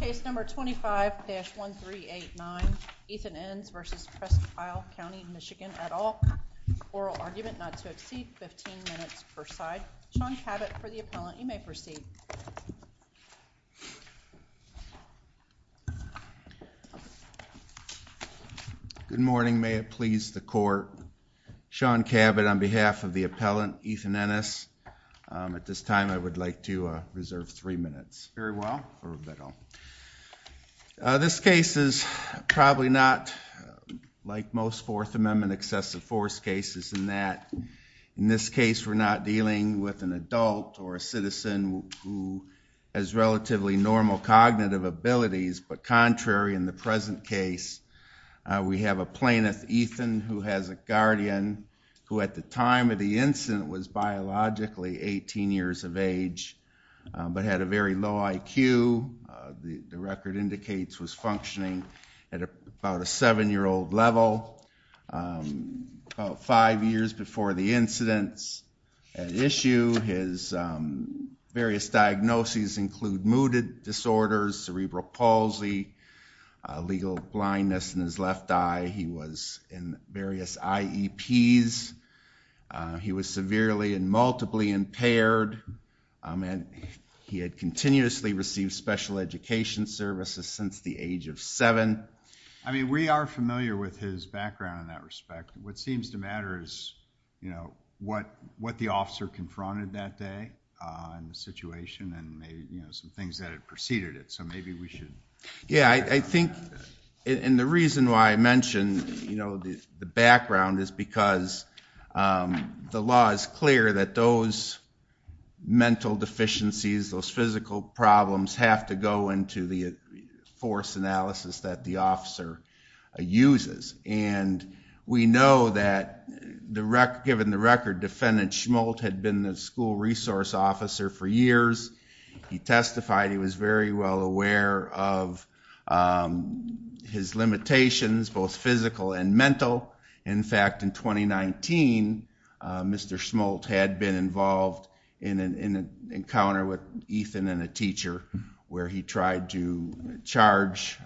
Case number 25-1389, Ethan Ennes v. Presque Isle County, MI et al. Oral argument not to exceed 15 minutes per side. Sean Cabot for the appellant. You may proceed. Good morning. May it please the court. Sean Cabot on behalf of the appellant Ethan Ennes. At this time I would like to reserve three minutes. Very well. This case is probably not like most Fourth Amendment excessive force cases in that in this case we're not dealing with an adult or a citizen who has relatively normal cognitive abilities, but contrary in the present case we have a plaintiff, Ethan, who has a guardian who at the time of the incident was biologically 18 years of age but had a very low IQ. The record indicates was functioning at about a seven-year-old level about five years before the incidents at issue. His various diagnoses include mooted disorders, cerebral palsy, legal blindness in his left eye. He was in various IEPs. He was severely and multiply impaired and he had continuously received special education services since the age of seven. I mean, we are familiar with his background in that respect. What seems to matter is, you know, what what the officer confronted that day in the situation and maybe, you know, some things that had preceded it. So maybe we should. Yeah, I think and the reason why I mentioned, you know, the background is because the law is clear that those mental deficiencies, those physical problems have to go into the force analysis that the officer uses. And we know that the record, given the record, defendant Schmulte had been the school resource officer for years. He testified he was very well aware of his limitations, both physical and mental. In fact, in 2019, Mr. Schmulte had been involved in an encounter with Ethan and a teacher where he tried to charge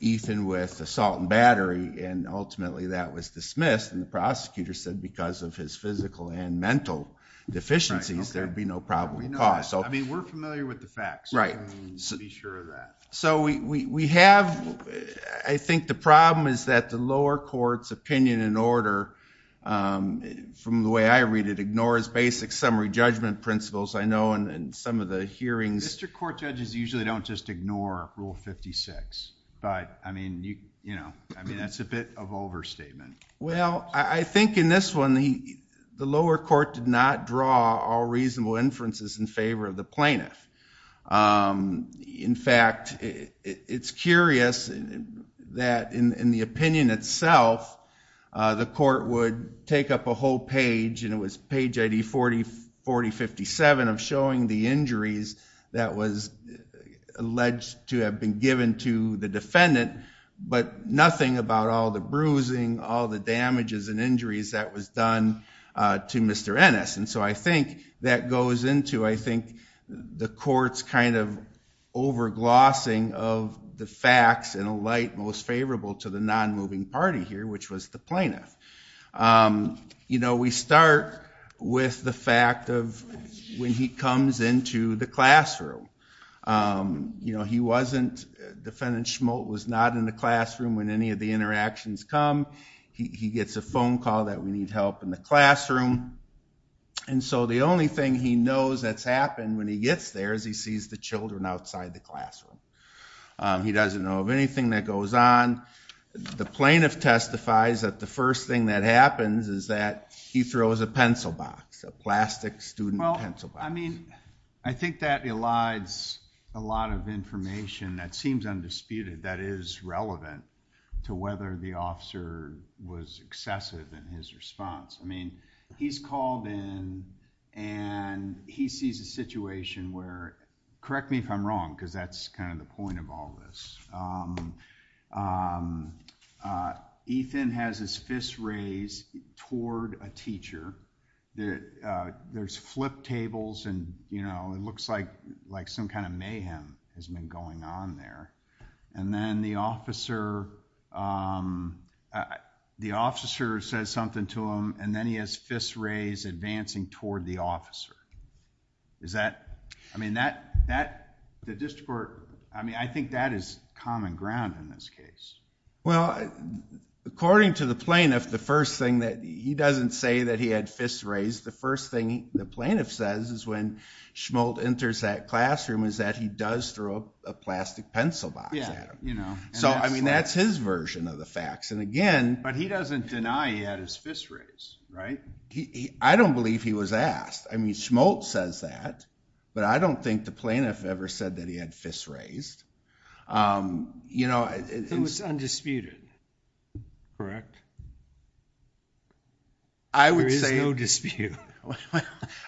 Ethan with assault and battery and ultimately that was dismissed. And the prosecutor said because of his physical and mental deficiencies, there'd be no problem at all. I mean, we're familiar with the facts. Right. Be sure of that. So we have, I think the problem is that the lower court's opinion in order, from the way I read it, ignores basic summary judgment principles. I know in some of the hearings. Mr. Court judges usually don't just ignore Rule 56. But I mean, you know, I mean, that's a bit of overstatement. Well, I think in this one, the lower court did not draw all reasonable inferences in favor of the plaintiff. In fact, it's curious that in the opinion itself, the court would take up a whole page and it was page ID 4047 of showing the injuries that was alleged to have been given to the defendant, but nothing about all the bruising, all the damages and injuries that was done to Mr. Ennis. And so I think that goes into, I think, the court's kind of over-glossing of the facts in a light most favorable to the non-moving party here, which was the plaintiff. You know, we start with the fact of when he comes into the classroom. You know, he wasn't, defendant Schmulte was not in the classroom when any of the interactions come. He gets a phone call that we need help in the classroom. And so the only thing he knows that's happened when he gets there is he sees the children outside the classroom. He doesn't know of anything that goes on. The plaintiff testifies that the first thing that happens is that he throws a pencil box, a plastic student pencil box. I mean, I think that elides a lot of information that seems undisputed that is relevant to whether the officer was excessive in his response. I mean, he's called in and he sees a situation where, correct me if I'm wrong, because that's kind of the point of all this. Ethan has his fists raised toward a teacher. There's flip tables and, you know, it looks like some kind of mayhem has been going on there. And then the officer says something to him and then he has fists raised advancing toward the officer. I mean, I think that is common ground in this case. Well, according to the plaintiff, the first thing that he doesn't say that he had fists raised, the first thing the plaintiff says is when Schmulte enters that classroom is that he does throw a plastic pencil box at him. So, I mean, that's his version of the facts. But he doesn't deny he had his fists raised, right? I don't believe he was asked. I mean, Schmulte says that, but I don't think the plaintiff ever said that he had fists raised. It was undisputed, correct? There is no dispute.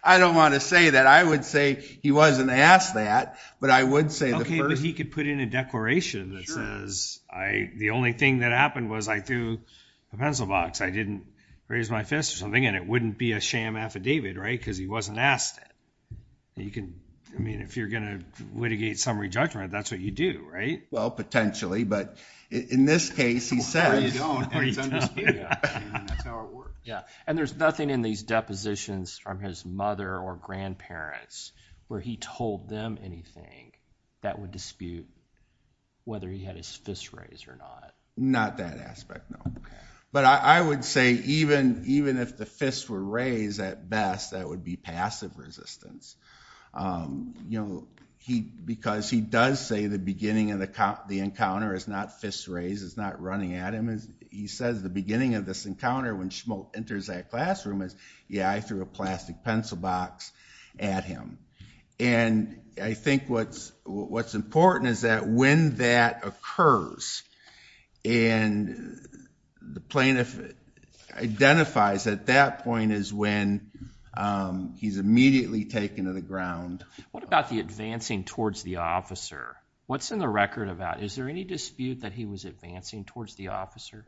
I don't want to say that. I would say he wasn't asked that, but I would say the first – Okay, but he could put in a declaration that says the only thing that happened was I threw a pencil box. I didn't raise my fist or something, and it wouldn't be a sham affidavit, right? Because he wasn't asked it. I mean, if you're going to litigate summary judgment, that's what you do, right? Well, potentially, but in this case, he says – Or you don't, and it's undisputed. That's how it works. Yeah, and there's nothing in these depositions from his mother or grandparents where he told them anything that would dispute whether he had his fists raised or not. Not that aspect, no. Okay. But I would say even if the fists were raised at best, that would be passive resistance. You know, because he does say the beginning of the encounter is not fists raised. It's not running at him. He says the beginning of this encounter when Schmoltz enters that classroom is, yeah, I threw a plastic pencil box at him. And I think what's important is that when that occurs and the plaintiff identifies at that point is when he's immediately taken to the ground. What about the advancing towards the officer? What's in the record about – is there any dispute that he was advancing towards the officer?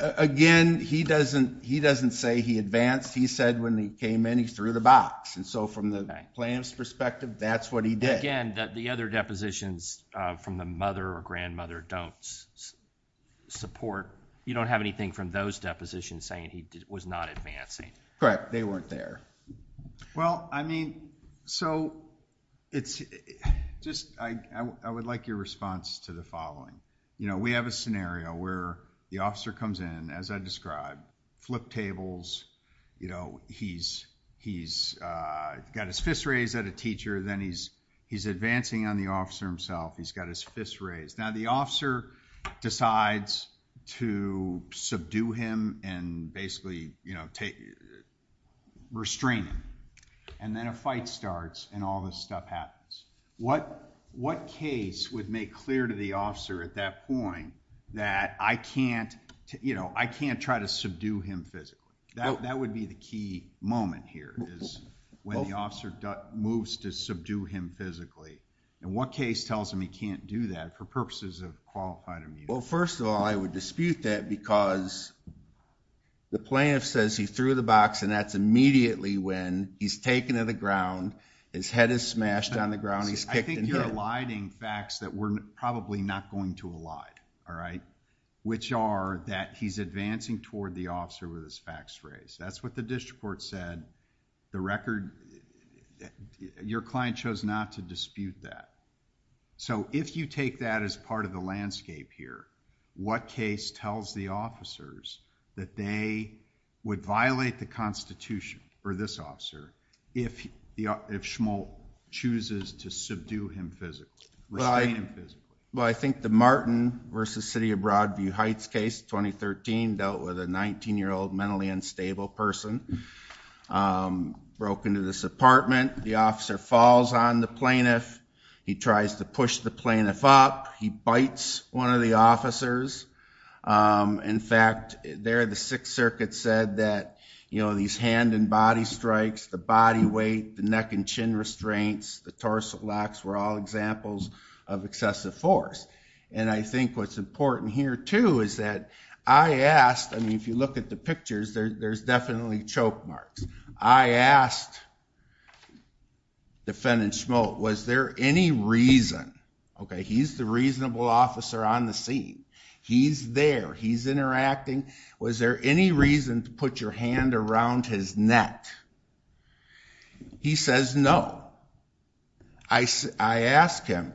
Again, he doesn't say he advanced. He said when he came in, he threw the box. And so from the plaintiff's perspective, that's what he did. Again, the other depositions from the mother or grandmother don't support – you don't have anything from those depositions saying he was not advancing. Correct. They weren't there. Well, I mean, so it's just – I would like your response to the following. We have a scenario where the officer comes in, as I described, flip tables. He's got his fist raised at a teacher. Then he's advancing on the officer himself. He's got his fist raised. Now the officer decides to subdue him and basically restrain him. And then a fight starts and all this stuff happens. What case would make clear to the officer at that point that I can't try to subdue him physically? That would be the key moment here is when the officer moves to subdue him physically. And what case tells him he can't do that for purposes of qualified immunity? Well, first of all, I would dispute that because the plaintiff says he threw the box and that's immediately when he's taken to the ground. His head is smashed on the ground. He's kicked and hit. I think you're eliding facts that we're probably not going to elide, all right, which are that he's advancing toward the officer with his facts raised. That's what the district court said. The record – your client chose not to dispute that. So if you take that as part of the landscape here, what case tells the officers that they would violate the constitution for this officer if Schmolt chooses to subdue him physically, restrain him physically? Well, I think the Martin v. City of Broadview Heights case, 2013, dealt with a 19-year-old mentally unstable person, broke into this apartment. The officer falls on the plaintiff. He tries to push the plaintiff up. He bites one of the officers. In fact, there the Sixth Circuit said that, you know, these hand and body strikes, the body weight, the neck and chin restraints, the torso locks were all examples of excessive force. And I think what's important here, too, is that I asked – I mean, if you look at the pictures, there's definitely choke marks. I asked defendant Schmolt, was there any reason – okay, he's the reasonable officer on the scene. He's there. He's interacting. Was there any reason to put your hand around his neck? He says no. I asked him,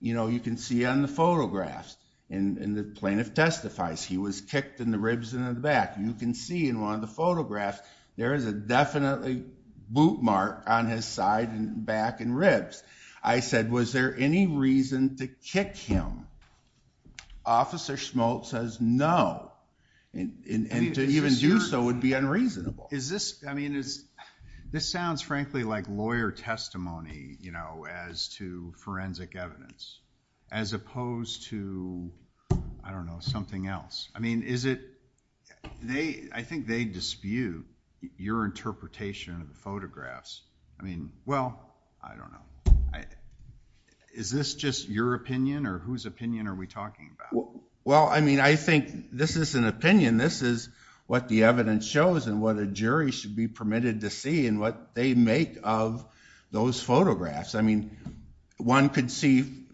you know, you can see on the photographs, and the plaintiff testifies, he was kicked in the ribs and in the back. You can see in one of the photographs there is a definitely boot mark on his side and back and ribs. I said, was there any reason to kick him? Officer Schmolt says no. And to even do so would be unreasonable. Is this – I mean, this sounds frankly like lawyer testimony, you know, as to forensic evidence as opposed to, I don't know, something else. I mean, is it – I think they dispute your interpretation of the photographs. I mean, well, I don't know. Is this just your opinion, or whose opinion are we talking about? Well, I mean, I think this is an opinion. This is what the evidence shows and what a jury should be permitted to see and what they make of those photographs. I mean, one could see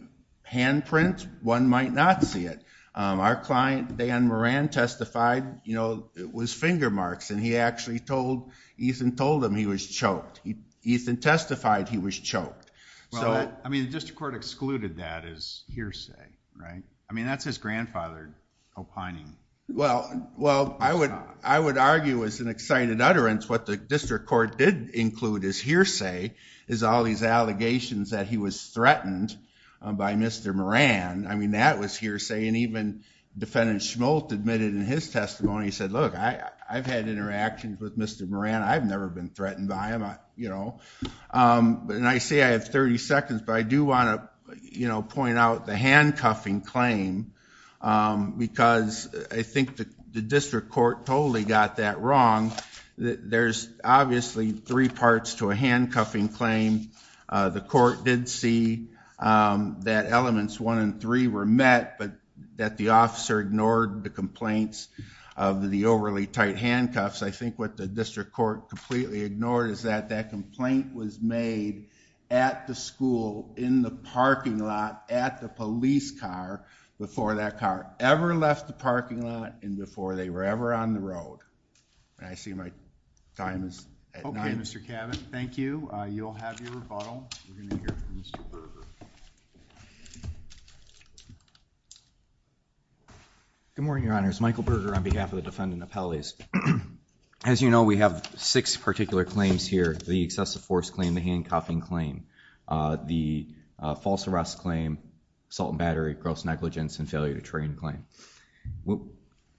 handprint, one might not see it. Our client, Dan Moran, testified, you know, it was finger marks, and he actually told – Ethan told him he was choked. Ethan testified he was choked. Well, I mean, the district court excluded that as hearsay, right? I mean, that's his grandfather opining. Well, I would argue as an excited utterance what the district court did include as hearsay is all these allegations that he was threatened by Mr. Moran. I mean, that was hearsay, and even Defendant Schmolt admitted in his testimony, he said, look, I've had interactions with Mr. Moran. I've never been threatened by him, you know. And I say I have 30 seconds, but I do want to, you know, point out the handcuffing claim because I think the district court totally got that wrong. There's obviously three parts to a handcuffing claim. The court did see that elements one and three were met, but that the officer ignored the complaints of the overly tight handcuffs. I think what the district court completely ignored is that that complaint was made at the school, in the parking lot, at the police car, before that car ever left the parking lot and before they were ever on the road. I see my time is at night. Okay, Mr. Cabot. Thank you. You'll have your rebuttal. We're going to hear from Mr. Berger. Good morning, Your Honors. Michael Berger on behalf of the defendant appellees. As you know, we have six particular claims here. The excessive force claim, the handcuffing claim, the false arrest claim, assault and battery, gross negligence, and failure to train claim.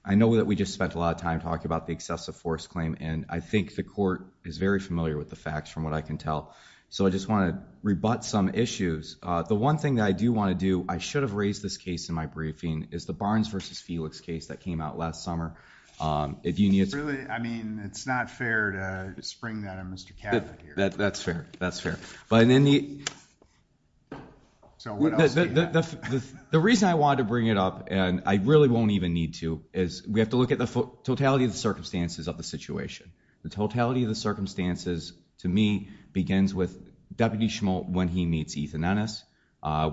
I know that we just spent a lot of time talking about the excessive force claim, and I think the court is very familiar with the facts from what I can tell. So I just want to rebut some issues. The one thing that I do want to do, I should have raised this case in my briefing, is the Barnes versus Felix case that came out last summer. I mean, it's not fair to spring that on Mr. Cabot here. That's fair. The reason I wanted to bring it up, and I really won't even need to, is we have to look at the totality of the circumstances of the situation. The totality of the circumstances, to me, begins with Deputy Schmoltz when he meets Ethan Ennis.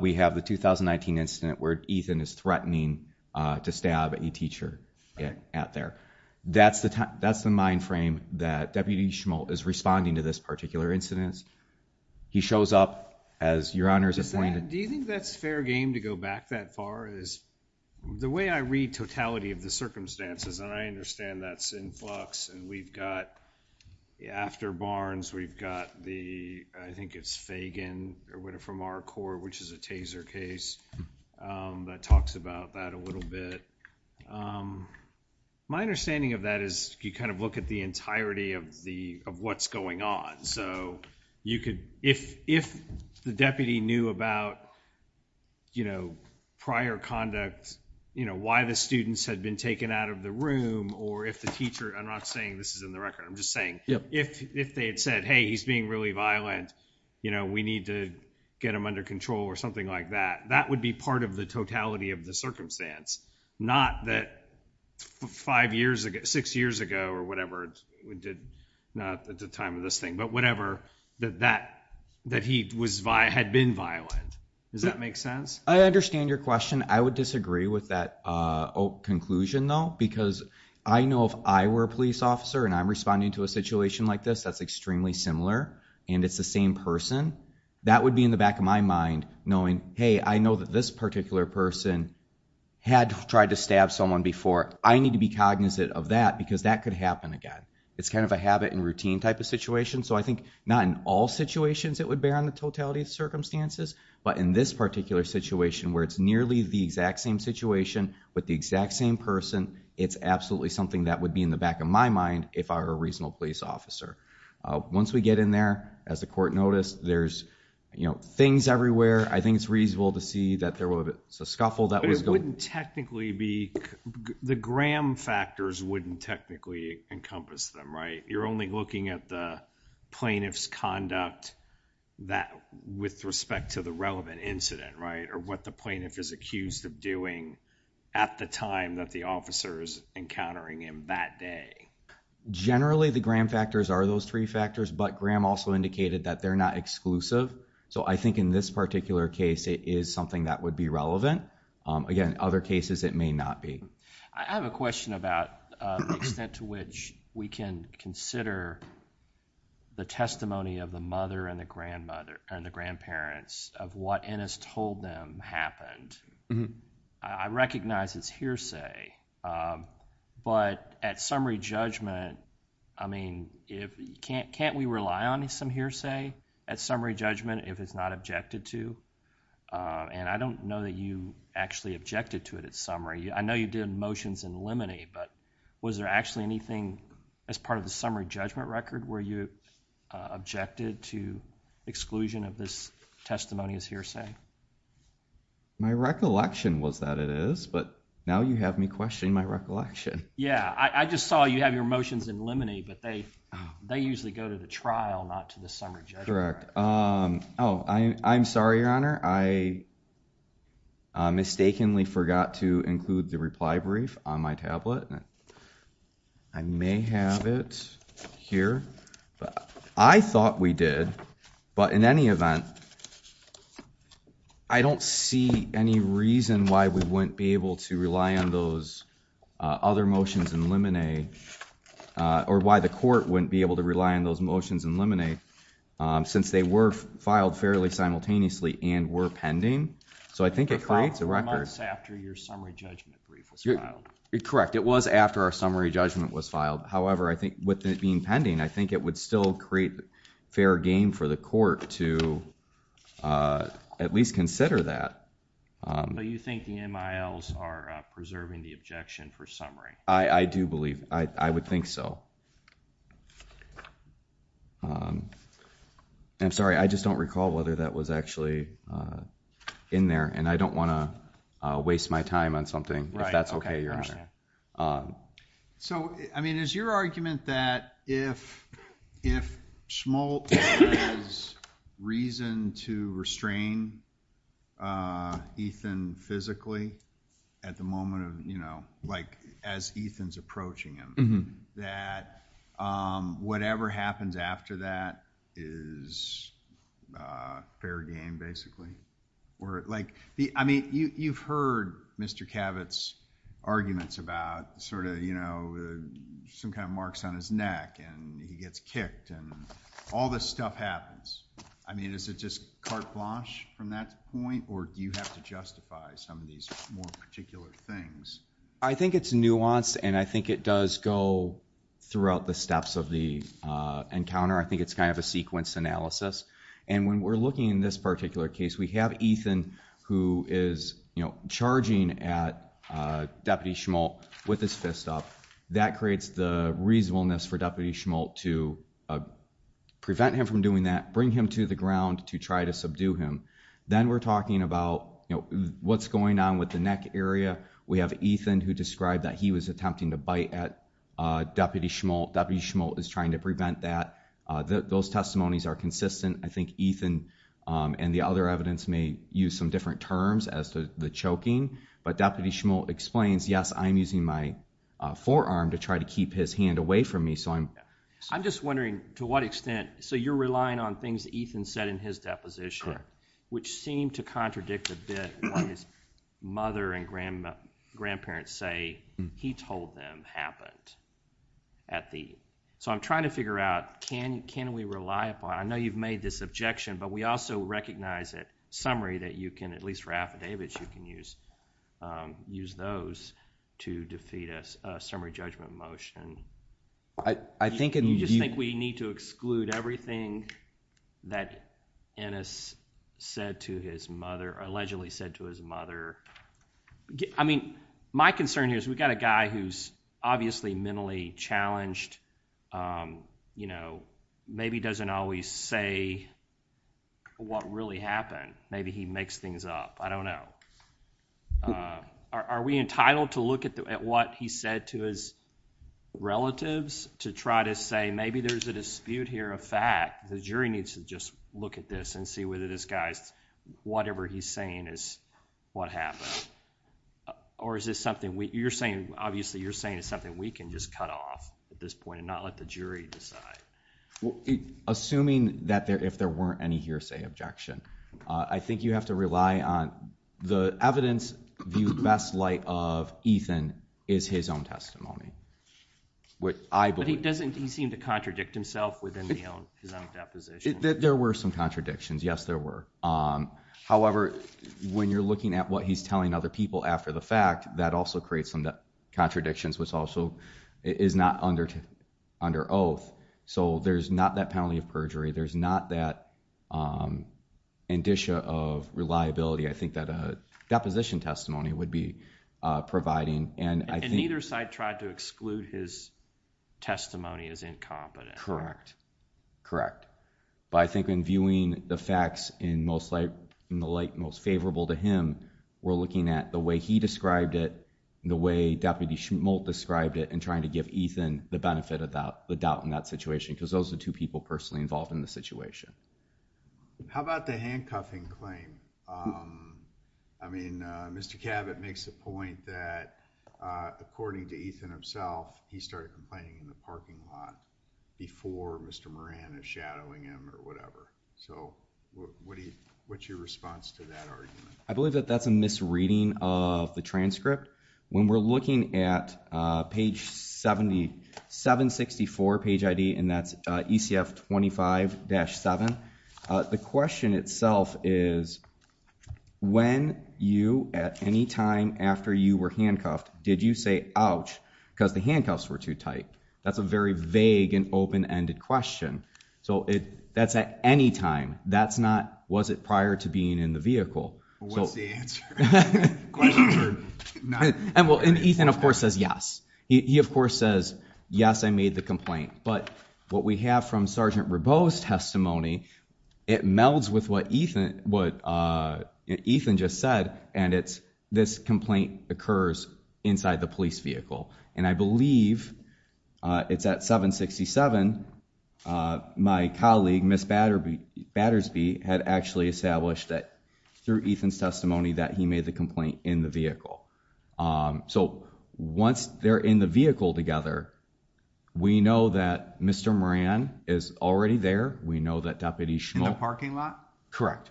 We have the 2019 incident where Ethan is threatening to stab a teacher out there. That's the mind frame that Deputy Schmoltz is responding to this particular incident. He shows up as Your Honor's appointed. Do you think that's fair game to go back that far? The way I read totality of the circumstances, and I understand that's in flux, and we've got after Barnes, we've got the, I think it's Fagan from our court, which is a taser case that talks about that a little bit. My understanding of that is you kind of look at the entirety of what's going on. So you could, if the deputy knew about, you know, prior conduct, you know, why the students had been taken out of the room, or if the teacher, I'm not saying this is in the record, I'm just saying if they had said, hey, he's being really violent, you know, we need to get him under control or something like that, that would be part of the totality of the circumstance, not that five years ago, six years ago, or whatever, not at the time of this thing, but whatever, that he had been violent. Does that make sense? I understand your question. I would disagree with that conclusion, though, because I know if I were a police officer and I'm responding to a situation like this that's extremely similar and it's the same person, that would be in the back of my mind knowing, hey, I know that this particular person had tried to stab someone before. I need to be cognizant of that because that could happen again. It's kind of a habit and routine type of situation. So I think not in all situations it would bear on the totality of circumstances, but in this particular situation where it's nearly the same, it's absolutely something that would be in the back of my mind if I were a reasonable police officer. Once we get in there, as the court noticed, there's, you know, things everywhere. I think it's reasonable to see that there was a scuffle. But it wouldn't technically be, the Graham factors wouldn't technically encompass them, right? You're only looking at the plaintiff's conduct with respect to the relevant incident, right, or what the plaintiff is accused of doing at the time that the officer is encountering him that day. Generally, the Graham factors are those three factors, but Graham also indicated that they're not exclusive. So I think in this particular case, it is something that would be relevant. Again, other cases it may not be. I have a question about the extent to which we can consider the testimony of the mother and the grandmother and the grandparents of what Ennis told them happened. I recognize it's hearsay, but at summary judgment, I mean, can't we rely on some hearsay at summary judgment if it's not objected to? And I don't know that you actually objected to it at summary. I know you did motions in limine, but was there actually anything as part of the summary judgment record where you objected to exclusion of this testimony as hearsay? My recollection was that it is, but now you have me questioning my recollection. Yeah, I just saw you have your motions in limine, but they usually go to the trial, not to the summary judgment. Correct. Oh, I'm sorry, Your Honor. I mistakenly forgot to include the reply brief on my tablet. I may have it here. I thought we did, but in any event, I don't see any reason why we wouldn't be able to rely on those other motions in limine or why the court wouldn't be able to rely on those motions in limine since they were filed fairly simultaneously and were pending. So I think it creates a record. It was after your summary judgment brief was filed. Correct. It was after our summary judgment was filed. However, I think with it being pending, I think it would still create fair game for the court to at least consider that. But you think the MILs are preserving the objection for summary? I do believe. I would think so. I'm sorry. I just don't recall whether that was actually in there, and I don't want to waste my time on something if that's okay, Your Honor. I understand. So, I mean, is your argument that if Schmoltz has reason to restrain Ethan physically at the moment of, you know, like as Ethan's approaching him, that whatever happens after that is fair game, basically? Like, I mean, you've heard Mr. Cavett's arguments about sort of, you know, some kind of marks on his neck, and he gets kicked, and all this stuff happens. I mean, is it just carte blanche from that point, or do you have to justify some of these more particular things? I think it's nuanced, and I think it does go throughout the steps of the encounter. I think it's kind of a sequence analysis. And when we're looking in this particular case, we have Ethan who is, you know, charging at Deputy Schmoltz with his fist up. That creates the reasonableness for Deputy Schmoltz to prevent him from doing that, bring him to the ground to try to subdue him. Then we're talking about, you know, what's going on with the neck area. We have Ethan who described that he was attempting to bite at Deputy Schmoltz. Deputy Schmoltz is trying to prevent that. Those testimonies are consistent. I think Ethan and the other evidence may use some different terms as to the choking. But Deputy Schmoltz explains, yes, I'm using my forearm to try to keep his hand away from me. I'm just wondering to what extent, so you're relying on things Ethan said in his deposition, which seemed to contradict a bit what his mother and grandparents say he told them happened. So I'm trying to figure out, can we rely upon, I know you've made this objection, but we also recognize that summary that you can, at least for affidavits, you can use those to defeat a summary judgment motion. You just think we need to exclude everything that Ennis said to his mother, allegedly said to his mother. I mean, my concern here is we've got a guy who's obviously mentally challenged, maybe doesn't always say what really happened. Maybe he makes things up. I don't know. Are we entitled to look at what he said to his relatives to try to say, maybe there's a dispute here, a fact. The jury needs to just look at this and see whether this guy's, whatever he's saying is what happened. Or is this something, you're saying, obviously you're saying it's something we can just cut off at this point and not let the jury decide. Assuming that there, if there weren't any hearsay objection, I think you have to rely on the evidence, the best light of Ethan is his own testimony. But he doesn't, he seemed to contradict himself within his own deposition. There were some contradictions. Yes, there were. However, when you're looking at what he's telling other people after the fact, that also creates some contradictions, which also is not under oath. So there's not that penalty of perjury. There's not that indicia of reliability. I think that a deposition testimony would be providing. And I think... And neither side tried to exclude his testimony as incompetent. Correct. Correct. But I think in viewing the facts in the light most favorable to him, we're looking at the way he described it, the way Deputy Schmulte described it, and trying to give Ethan the benefit of the doubt in that situation. Because those are the two people personally involved in the situation. How about the handcuffing claim? I mean, Mr. Cabot makes the point that, according to Ethan himself, he started complaining in the parking lot before Mr. Moran is shadowing him or whatever. So what's your response to that argument? I believe that that's a misreading of the transcript. When we're looking at page 764, page ID, and that's ECF 25-7, the question itself is, when you, at any time after you were handcuffed, did you say, ouch, because the handcuffs were too tight? That's a very vague and open-ended question. So that's at any time. That's not, was it prior to being in the vehicle? Well, what's the answer? And Ethan, of course, says yes. He, of course, says, yes, I made the complaint. But what we have from Sergeant Rabeau's testimony, it melds with what Ethan just said, and it's this complaint occurs inside the police vehicle. And I believe it's at 767, my colleague, Miss Battersby, had actually established that, through Ethan's testimony, that he made the complaint in the vehicle. So once they're in the vehicle together, we know that Mr. Moran is already there. We know that Deputy Schmultz. In the parking lot? Correct.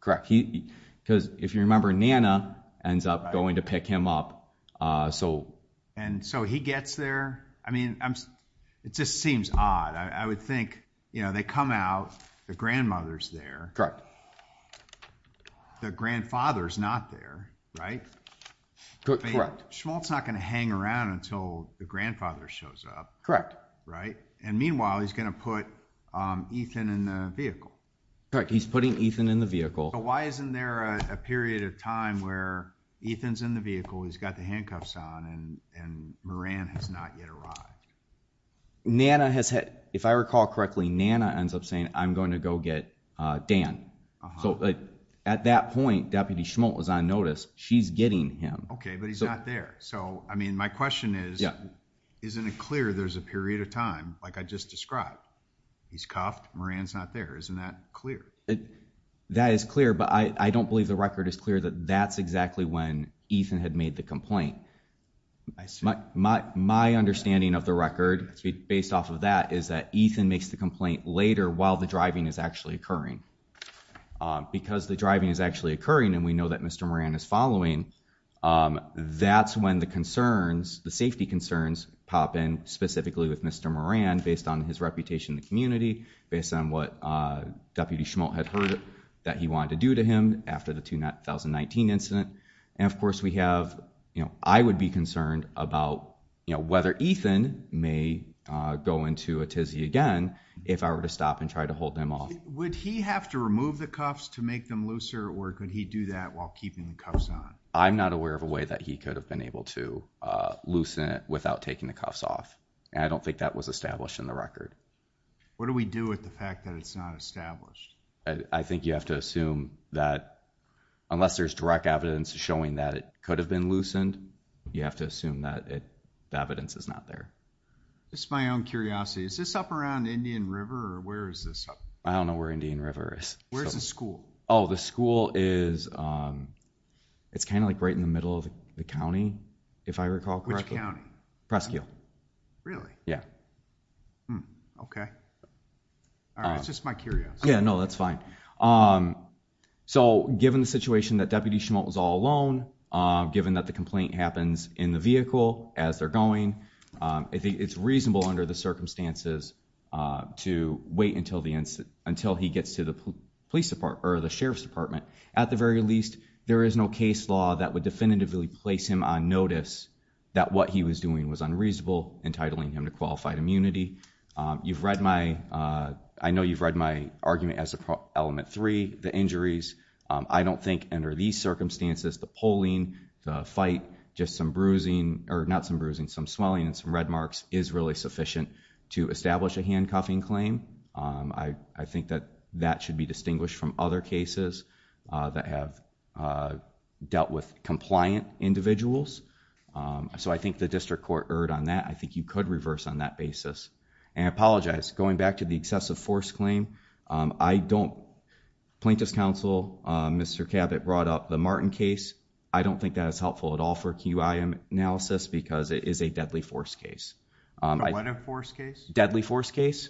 Correct. Because if you remember, Nana ends up going to pick him up. And so he gets there. I mean, it just seems odd. I would think they come out, the grandmother's there. The grandfather's not there, right? Correct. Schmultz's not going to hang around until the grandfather shows up. Correct. Right? And meanwhile, he's going to put Ethan in the vehicle. Correct, he's putting Ethan in the vehicle. So why isn't there a period of time where Ethan's in the vehicle, he's got the handcuffs on, and Moran has not yet arrived? Nana has had, if I recall correctly, Nana ends up saying, I'm going to go get Dan. So at that point, Deputy Schmultz was on notice. She's getting him. Okay, but he's not there. So, I mean, my question is, isn't it clear there's a period of time, like I just described? He's cuffed, Moran's not there. Isn't that clear? That is clear, but I don't believe the record is clear that that's exactly when Ethan had made the complaint. My understanding of the record, based off of that, is that Ethan makes the complaint later while the driving is actually occurring. Because the driving is actually occurring, and we know that Mr. Moran is following, that's when the concerns, the safety concerns pop in, specifically with Mr. Moran, based on his reputation in the community, based on what Deputy Schmultz had heard that he wanted to do to him after the 2019 incident. And, of course, we have, you know, I would be concerned about, you know, whether Ethan may go into a tizzy again if I were to stop and try to hold him off. Would he have to remove the cuffs to make them looser, or could he do that while keeping the cuffs on? I'm not aware of a way that he could have been able to loosen it without taking the cuffs off. And I don't think that was established in the record. What do we do with the fact that it's not established? I think you have to assume that, unless there's direct evidence showing that it could have been loosened, you have to assume that the evidence is not there. This is my own curiosity. Is this up around Indian River, or where is this up? I don't know where Indian River is. Where's the school? Oh, the school is, it's kind of like right in the middle of the county, if I recall correctly. Which county? Presque Hill. Really? Yeah. Okay. All right, it's just my curiosity. Yeah, no, that's fine. So given the situation that Deputy Schmulte was all alone, given that the complaint happens in the vehicle as they're going, I think it's reasonable under the circumstances to wait until he gets to the Sheriff's Department. At the very least, there is no case law that would definitively place him on notice that what he was doing was unreasonable, entitling him to qualified immunity. You've read my, I know you've read my argument as to Element 3, the injuries. I don't think under these circumstances, the pulling, the fight, just some bruising, or not some bruising, some swelling and some red marks is really sufficient to establish a handcuffing claim. I think that that should be distinguished from other cases that have dealt with compliant individuals. So I think the district court erred on that. I think you could reverse on that basis. And I apologize, going back to the excessive force claim, I don't, Plaintiff's counsel, Mr. Cabot brought up the Martin case. I don't think that is helpful at all for QI analysis because it is a deadly force case. What a force case? Deadly force case.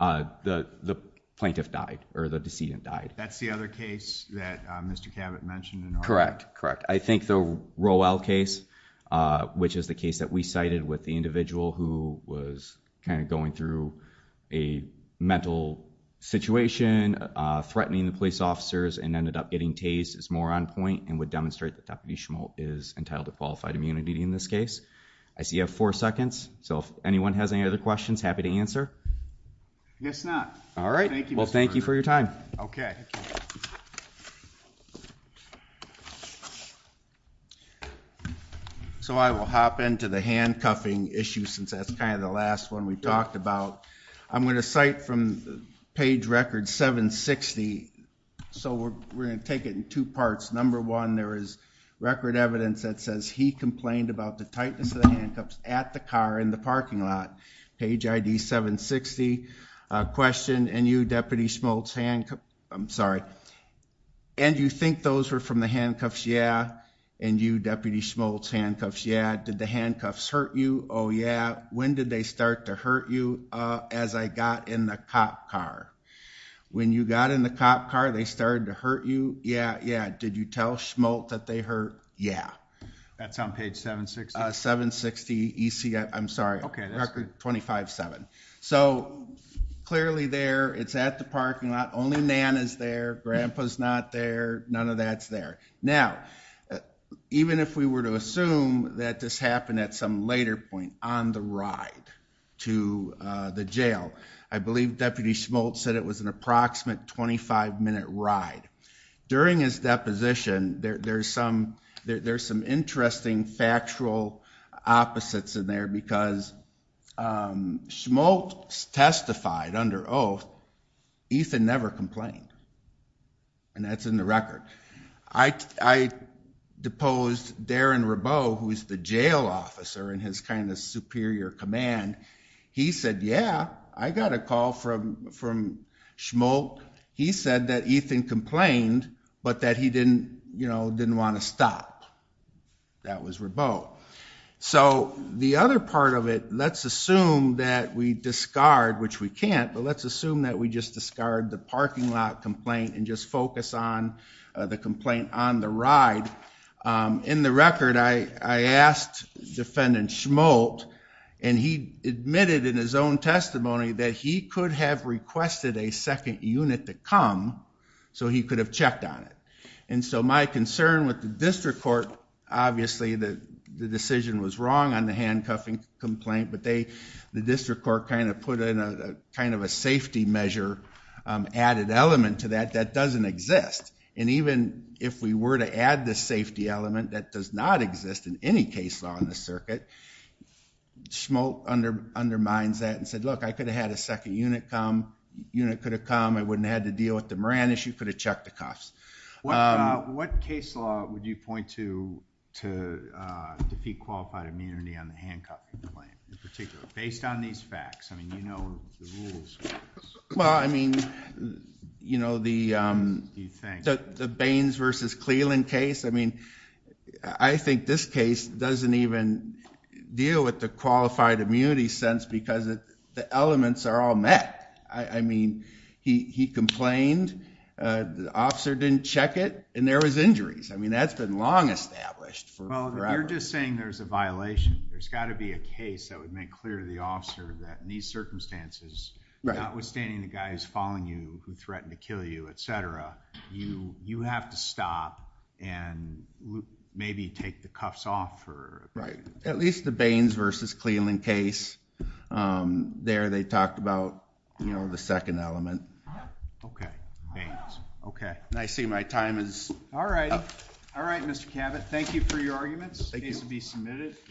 The plaintiff died or the decedent died. That's the other case that Mr. Cabot mentioned. Correct. Correct. I think the Rowell case, which is the case that we cited with the individual who was kind of going through a mental situation, threatening the police officers and ended up getting tased, is more on point and would demonstrate that Deputy Schmoltz is entitled to qualified immunity in this case. I see you have four seconds. So if anyone has any other questions, happy to answer. I guess not. All right. Well, thank you for your time. Okay. Thank you. So I will hop into the handcuffing issue since that's kind of the last one we talked about. I'm going to cite from page record 760. So we're going to take it in two parts. Number one, there is record evidence that says he complained about the tightness of the handcuffs at the car in the parking lot. Page ID 760. Question. And you Deputy Schmoltz handcuff. I'm sorry. And you think those were from the handcuffs? Yeah. And you Deputy Schmoltz handcuffs. Yeah. Did the handcuffs hurt you? Oh, yeah. When did they start to hurt you? As I got in the cop car, when you got in the cop car, they started to hurt you. Yeah. Yeah. Did you tell Schmoltz that they hurt? Yeah. That's on page 760. 760 EC. I'm sorry. Okay. Record 25 seven. So clearly there, it's at the parking lot. Only Nana's there. Grandpa's not there. None of that's there. Now, even if we were to assume that this happened at some later point on the ride to the jail, I believe Deputy Schmoltz said it was an approximate 25 minute ride during his deposition. There there's some, there there's some interesting factual opposites in there because Schmoltz testified under oath, Ethan never complained. And that's in the record. I, I deposed Darren Rabot, who is the jail officer and his kind of superior command. He said, yeah, I got a call from, from Schmoltz. He said that Ethan complained, but that he didn't, you know, didn't want to stop. That was Rabot. So the other part of it, let's assume that we discard, which we can't, but let's assume that we just discard the parking lot complaint and just focus on the complaint on the ride. In the record, I asked defendant Schmoltz and he admitted in his own testimony that he could have requested a second unit to come so he could have checked on it. And so my concern with the district court, obviously the decision was wrong on the handcuffing complaint, but they, the district court kind of put in a kind of a safety measure added element to that, that doesn't exist. And even if we were to add the safety element that does not exist in any case on the circuit, Schmoltz undermines that and said, look, I could have had a second unit come, unit could have come. I wouldn't have had to deal with the Moran issue, could have checked the cuffs. What case law would you point to, to defeat qualified immunity on the handcuffing claim in particular, based on these facts? I mean, you know, well, I mean, you know, the, the Baines versus Cleland case. I mean, I think this case doesn't even deal with the qualified immunity sense because the elements are all met. I mean, he, he complained, the officer didn't check it and there was injuries. I mean, that's been long established for forever. You're just saying there's a violation. There's gotta be a case that would make clear to the officer that in these circumstances, not withstanding the guy who's following you, who threatened to kill you, et cetera, you, you have to stop and maybe take the cuffs off for. Right. At least the Baines versus Cleland case there, they talked about, you know, the second element. Okay. And I see my time is. All right. All right. Mr. Cabot, thank you for your arguments. Thank you to be submitted.